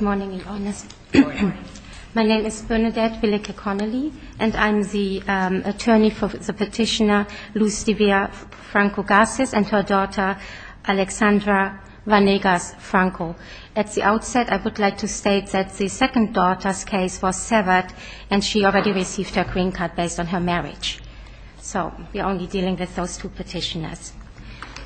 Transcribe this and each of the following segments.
My name is Bernadette Willeke Connelly, and I'm the attorney for the petitioner Lustvia Franco-Garces and her daughter Alexandra Vanegas-Franco. At the outset, I would like to state that the second daughter's case was severed, and she already received her green card based on her marriage. So we're only dealing with those two petitioners.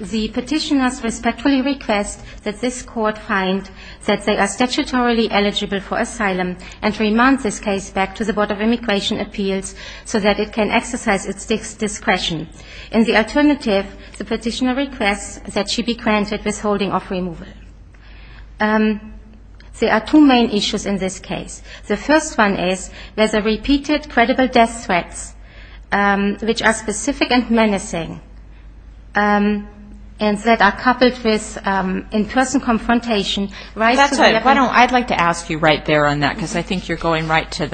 The petitioners respectfully request that this court find that they are statutorily eligible for asylum and remand this case back to the Board of Immigration Appeals so that it can exercise its discretion. In the alternative, the petitioner requests that she be granted withholding of removal. There are two main issues in this case. The first one is there's a repeated credible death threats, which are specific and menacing, and that are coupled with in-person confrontation. Why don't I ask you right there on that, because I think you're going right to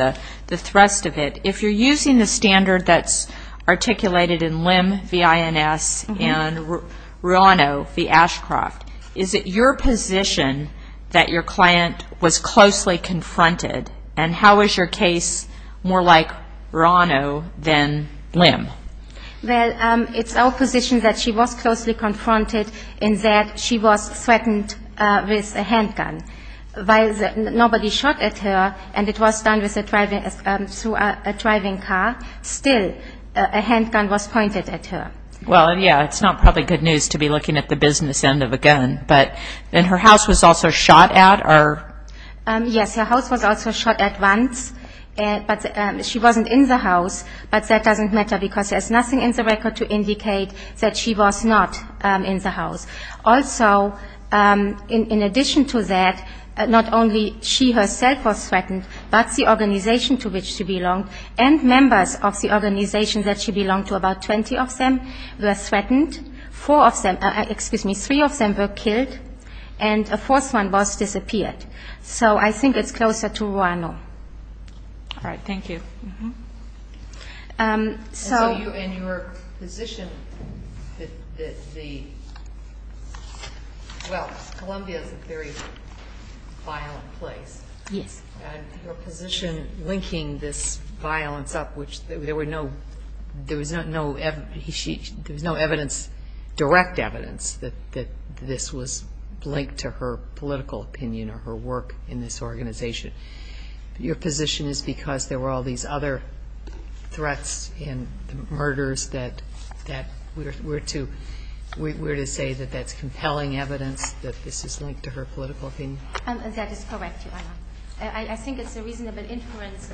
the thrust of it. If you're using the standard that's articulated in LIM, V-I-N-S, and RUANO, the Ashcroft, is it your position that your client was closely confronted, and how is your case more like RUANO than LIM? Well, it's our position that she was closely confronted in that she was threatened with a handgun. Nobody shot at her, and it was done through a driving car. Still, a handgun was pointed at her. Well, yeah, it's not probably good news to be looking at the business end of a gun. And her house was also shot at? Yes, her house was also shot at once, but she wasn't in the house. But that doesn't matter, because there's nothing in the record to indicate that she was not in the house. Also, in addition to that, not only she herself was threatened, but the organization to which she belonged and members of the organization that she belonged to, about 20 of them, were threatened. Three of them were killed, and a fourth one was disappeared. So I think it's closer to RUANO. All right, thank you. And your position, well, Columbia is a very violent place. Yes. Your position linking this violence up, which there was no direct evidence that this was linked to her political opinion or her work in this organization. Your position is because there were all these other threats and murders that we're to say that that's compelling evidence that this is linked to her political opinion? That is correct, Your Honor. I think it's a reasonable inference.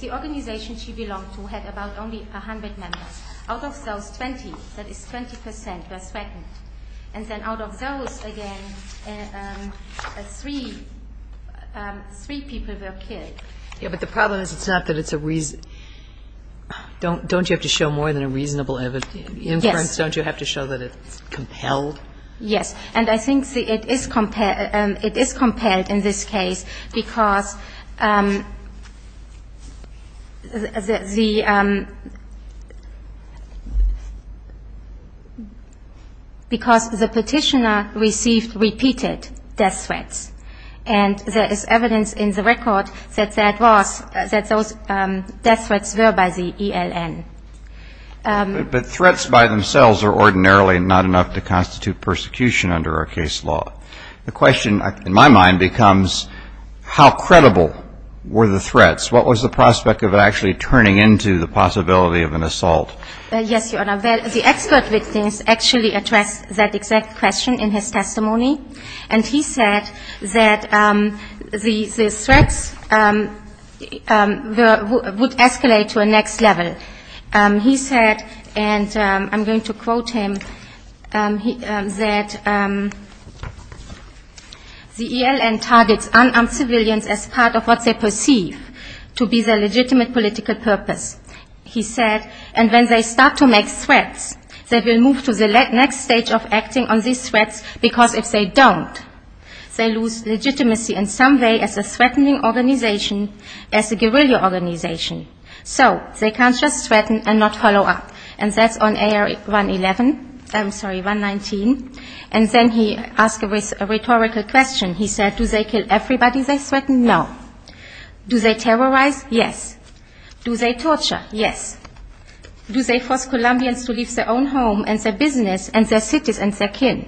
The organization she belonged to had about only 100 members. Out of those 20, that is 20 percent, were threatened. And then out of those, again, three people were killed. Yes, but the problem is it's not that it's a reason. Don't you have to show more than a reasonable inference? Yes. Don't you have to show that it's compelled? Yes. And I think it is compelled in this case because the petitioner received repeated death threats. And there is evidence in the record that that was, that those death threats were by the ELN. But threats by themselves are ordinarily not enough to constitute persecution under our case law. The question in my mind becomes how credible were the threats? What was the prospect of actually turning into the possibility of an assault? Yes, Your Honor. The expert witness actually addressed that exact question in his testimony. And he said that the threats would escalate to a next level. He said, and I'm going to quote him, that the ELN targets unarmed civilians as part of what they perceive to be the legitimate political purpose. He said, and when they start to make threats, they will move to the next stage of acting on these threats because if they don't, they lose legitimacy in some way as a threatening organization, as a guerrilla organization. So they can't just threaten and not follow up. And that's on AR-111, I'm sorry, 119. And then he asked a rhetorical question. He said, do they kill everybody they threaten? No. Do they terrorize? Yes. Do they torture? Yes. Do they force Colombians to leave their own home and their business and their cities and their kin?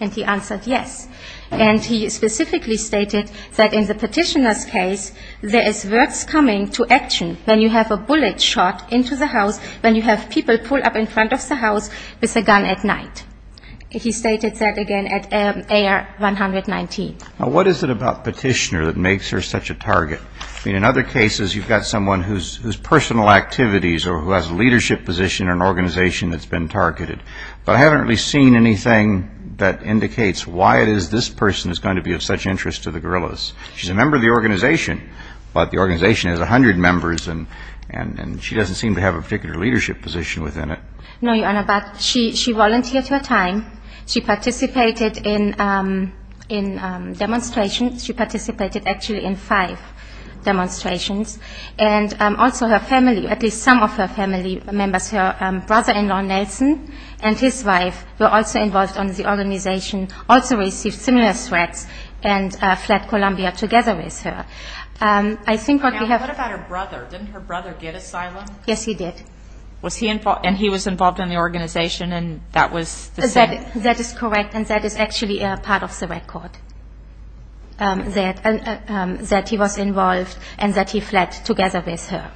And he answered yes. And he specifically stated that in the petitioner's case, there is worse coming to action when you have a bullet shot into the house, when you have people pulled up in front of the house with a gun at night. He stated that again at AR-119. Now, what is it about petitioner that makes her such a target? I mean, in other cases, you've got someone whose personal activities or who has a leadership position in an organization that's been targeted. But I haven't really seen anything that indicates why it is this person is going to be of such interest to the guerrillas. She's a member of the organization, but the organization has 100 members, and she doesn't seem to have a particular leadership position within it. No, Your Honor, but she volunteered her time. She participated in demonstrations. She participated actually in five demonstrations, and also her family, at least some of her family members, her brother-in-law, Nelson, and his wife were also involved in the organization, also received similar threats and fled Colombia together with her. Now, what about her brother? Didn't her brother get asylum? Yes, he did. And he was involved in the organization, and that was the same? That he was involved and that he fled together with her.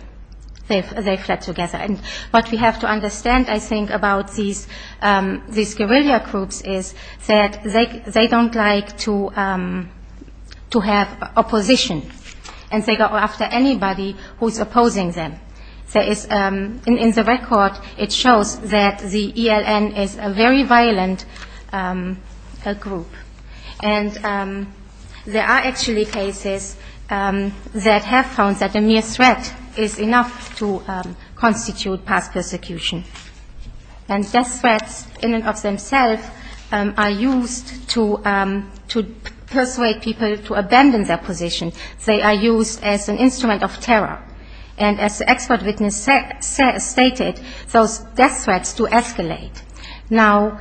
They fled together. And what we have to understand, I think, about these guerrilla groups is that they don't like to have opposition, and they go after anybody who's opposing them. In the record, it shows that the ELN is a very violent group, and there are actually cases that have found that a mere threat is enough to constitute past persecution. And death threats in and of themselves are used to persuade people to abandon their position. They are used as an instrument of terror. And as the expert witness stated, those death threats do escalate. Now,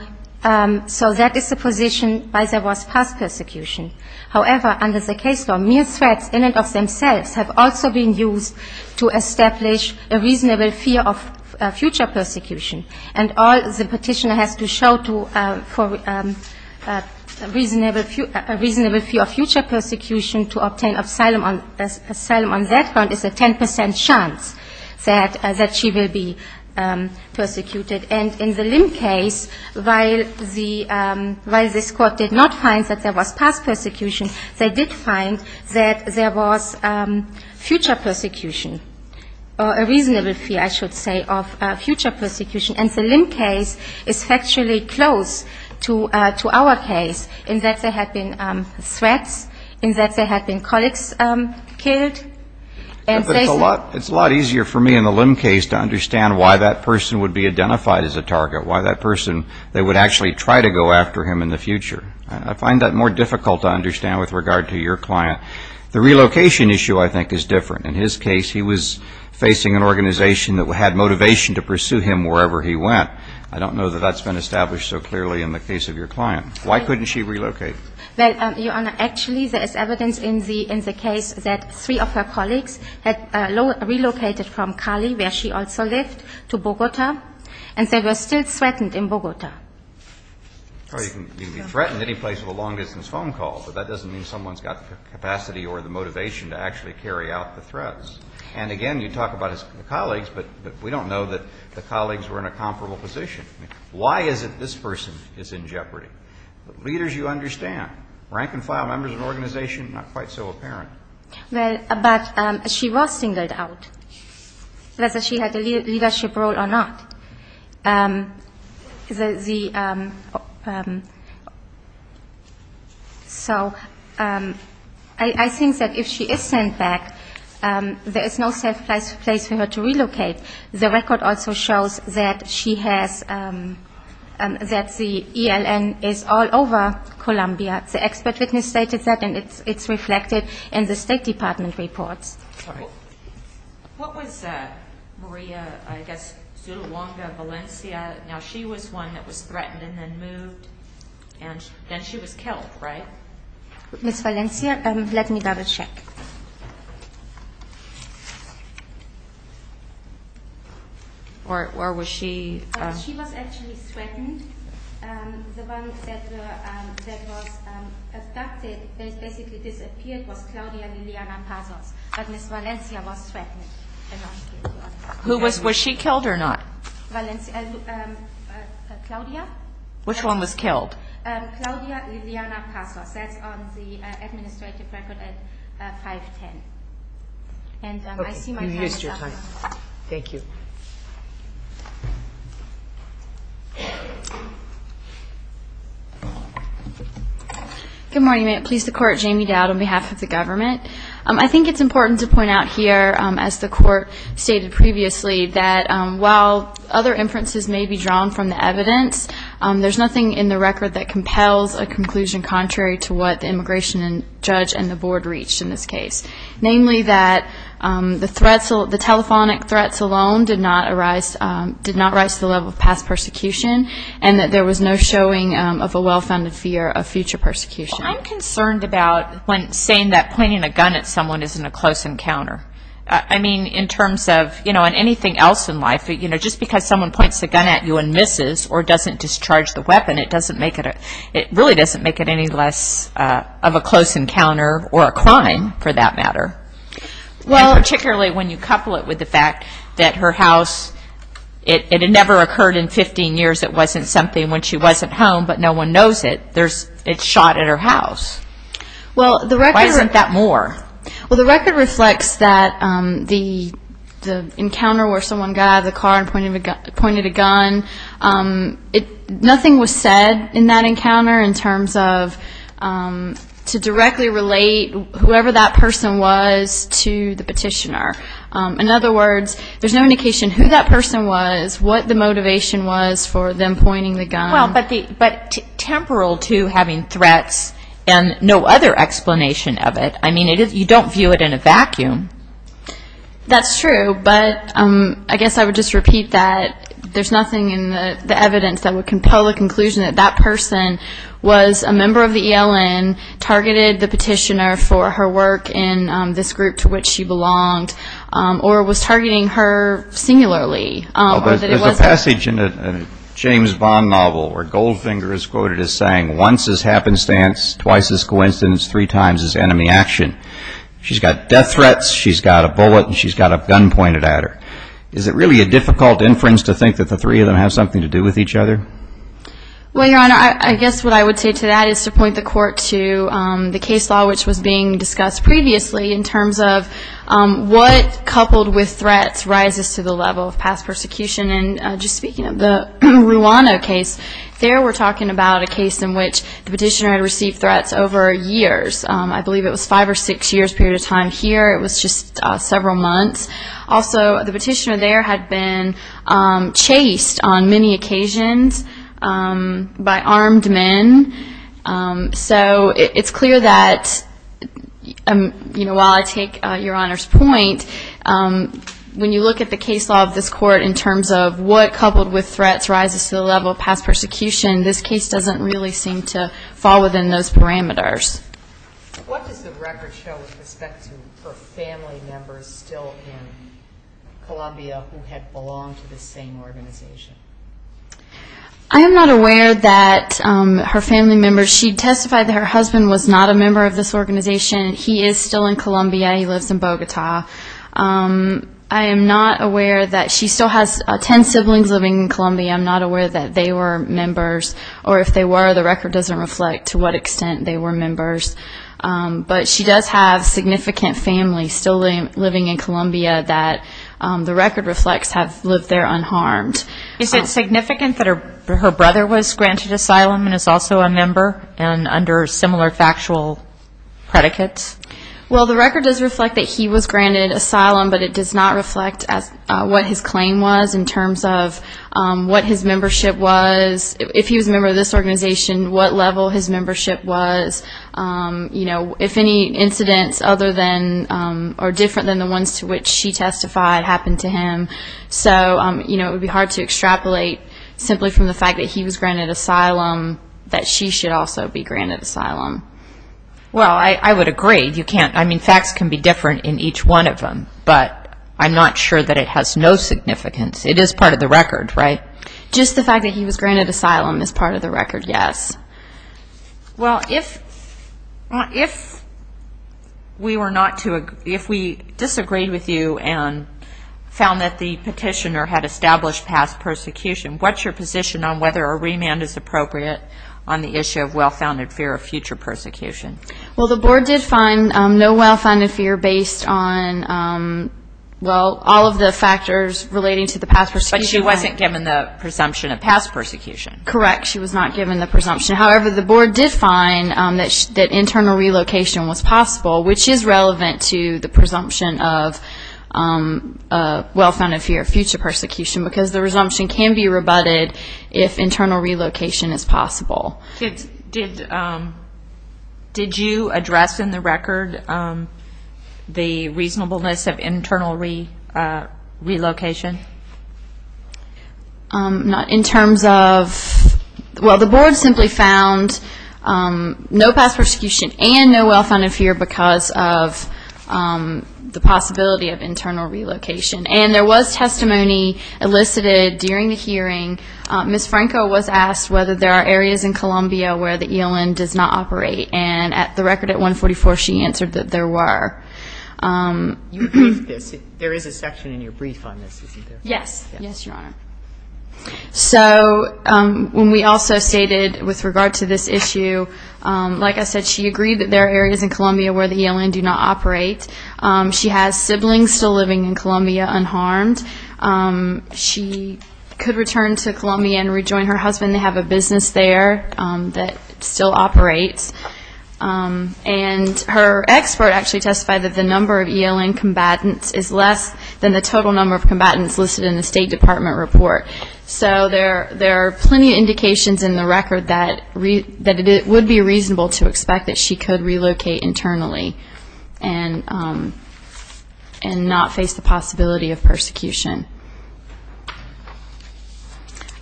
so that is the position by the worst past persecution. However, under the case law, mere threats in and of themselves have also been used to establish a reasonable fear of future persecution. And all the petitioner has to show for a reasonable fear of future persecution to obtain asylum on that front is a 10 percent chance that she will be persecuted. And in the Lim case, while this Court did not find that there was past persecution, they did find that there was future persecution, or a reasonable fear, I should say, of future persecution. And the Lim case is factually close to our case in that there had been threats, in that there had been colleagues killed. It's a lot easier for me in the Lim case to understand why that person would be identified as a target, why that person, they would actually try to go after him in the future. I find that more difficult to understand with regard to your client. The relocation issue, I think, is different. In his case, he was facing an organization that had motivation to pursue him wherever he went. I don't know that that's been established so clearly in the case of your client. Why couldn't she relocate? Well, Your Honor, actually there is evidence in the case that three of her colleagues had relocated from Cali, where she also lived, to Bogota, and they were still threatened in Bogota. Well, you can be threatened any place with a long-distance phone call, but that doesn't mean someone's got the capacity or the motivation to actually carry out the threats. And again, you talk about his colleagues, but we don't know that the colleagues were in a comparable position. Why is it this person is in jeopardy? Leaders, you understand. Rank-and-file members of an organization, not quite so apparent. Well, but she was singled out, whether she had a leadership role or not. So I think that if she is sent back, there is no safe place for her to relocate. The record also shows that she has, that the ELN is all over Colombia. The expert witness stated that, and it's reflected in the State Department reports. What was Maria, I guess, Zuluanga Valencia? Now, she was one that was threatened and then moved, and then she was killed, right? Ms. Valencia, let me double-check. Or was she... She was actually threatened. The one that was abducted, basically disappeared, was Claudia Liliana Pazos. But Ms. Valencia was threatened. Was she killed or not? Claudia. Which one was killed? Claudia Liliana Pazos, that's on the administrative record at 510. Okay, you've used your time. Thank you. Good morning. Please, the Court. Jamie Dowd on behalf of the government. I think it's important to point out here, as the Court stated previously, that while other inferences may be drawn from the evidence, there's nothing in the record that compels a conclusion contrary to what the immigration judge and the Board reached in this case. Namely, that the threats, the telephonic threats alone did not arise, did not rise to the level of past persecution, and that there was no showing of a well-founded fear of future persecution. I'm concerned about when saying that pointing a gun at someone isn't a close encounter. I mean, in terms of, you know, in anything else in life, you know, just because someone points a gun at you and misses or doesn't discharge the weapon, it doesn't make it a, it really doesn't make it any less of a close encounter or a crime, for that matter. Particularly when you couple it with the fact that her house, it had never occurred in 15 years, it wasn't something when she wasn't home, but no one knows it, it's shot at her house. Why isn't that more? Well, the record reflects that the encounter where someone got out of the car and pointed a gun, nothing was said in that encounter in terms of to directly relate whoever that person was to the petitioner. In other words, there's no indication who that person was, what the motivation was for them pointing the gun. Well, but temporal to having threats and no other explanation of it. I mean, you don't view it in a vacuum. That's true, but I guess I would just repeat that there's nothing in the evidence that would compel the conclusion that that person was a member of the ELN, targeted the petitioner for her work in this group to which she belonged, or was targeting her singularly. There's a passage in a James Bond novel where Goldfinger is quoted as saying, once is happenstance, twice is coincidence, three times is enemy action. She's got death threats, she's got a bullet, and she's got a gun pointed at her. Is it really a difficult inference to think that the three of them have something to do with each other? Well, Your Honor, I guess what I would say to that is to point the Court to the case law which was being discussed previously in terms of what, coupled with threats, rises to the level of past persecution. And just speaking of the Ruano case, there we're talking about a case in which the petitioner had received threats over years. I believe it was five or six years' period of time here. It was just several months. Also, the petitioner there had been chased on many occasions by armed men. So it's clear that, while I take Your Honor's point, when you look at the case law of this Court in terms of what, coupled with threats, rises to the level of past persecution, this case doesn't really seem to fall within those parameters. What does the record show with respect to her family members still in Colombia who had belonged to the same organization? I am not aware that her family members, she testified that her husband was not a member of this organization. He is still in Colombia. He lives in Bogota. I am not aware that she still has 10 siblings living in Colombia. I'm not aware that they were members, or if they were, the record doesn't reflect to what extent they were members. But she does have significant family still living in Colombia that the record reflects have lived there unharmed. Is it significant that her brother was granted asylum and is also a member and under similar factual predicates? Well, the record does reflect that he was granted asylum, but it does not reflect what his claim was in terms of what his membership was, if he was a member of this organization, what level his membership was, if any incidents other than or different than the ones to which she testified happened to him. So it would be hard to extrapolate simply from the fact that he was granted asylum that she should also be granted asylum. Well, I would agree. You can't. I mean, facts can be different in each one of them, but I'm not sure that it has no significance. It is part of the record, right? Just the fact that he was granted asylum is part of the record, yes. Well, if we were not to, if we disagreed with you and found that the petitioner had established past persecution, what's your position on whether a remand is appropriate on the issue of well-founded fear of future persecution? Well, the board did find no well-founded fear based on, well, all of the factors relating to the past persecution. But she wasn't given the presumption of past persecution. Correct. She was not given the presumption. However, the board did find that internal relocation was possible, which is relevant to the presumption of well-founded fear of future persecution, because the presumption can be rebutted if internal relocation is possible. Did you address in the record the reasonableness of internal relocation? In terms of, well, the board simply found no past persecution and no well-founded fear because of the possibility of internal relocation. And there was testimony elicited during the hearing. Ms. Franco was asked whether there are areas in Columbia where the ELN does not operate. And at the record at 144, she answered that there were. You briefed this. There is a section in your brief on this, isn't there? Yes. Yes, Your Honor. So when we also stated with regard to this issue, like I said, she agreed that there are areas in Columbia where the ELN do not operate. She has siblings still living in Columbia unharmed. She could return to Columbia and rejoin her husband. They have a business there that still operates. And her expert actually testified that the number of ELN combatants is less than the total number of combatants listed in the State Department report. So there are plenty of indications in the record that it would be reasonable to expect that she could relocate internally. And not face the possibility of persecution.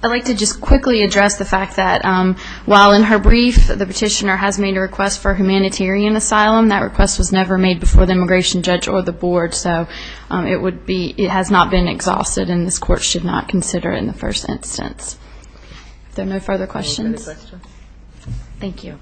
I'd like to just quickly address the fact that while in her brief the petitioner has made a request for humanitarian asylum, that request was never made before the immigration judge or the board. So it has not been exhausted, and this Court should not consider it in the first instance. Are there no further questions? Thank you.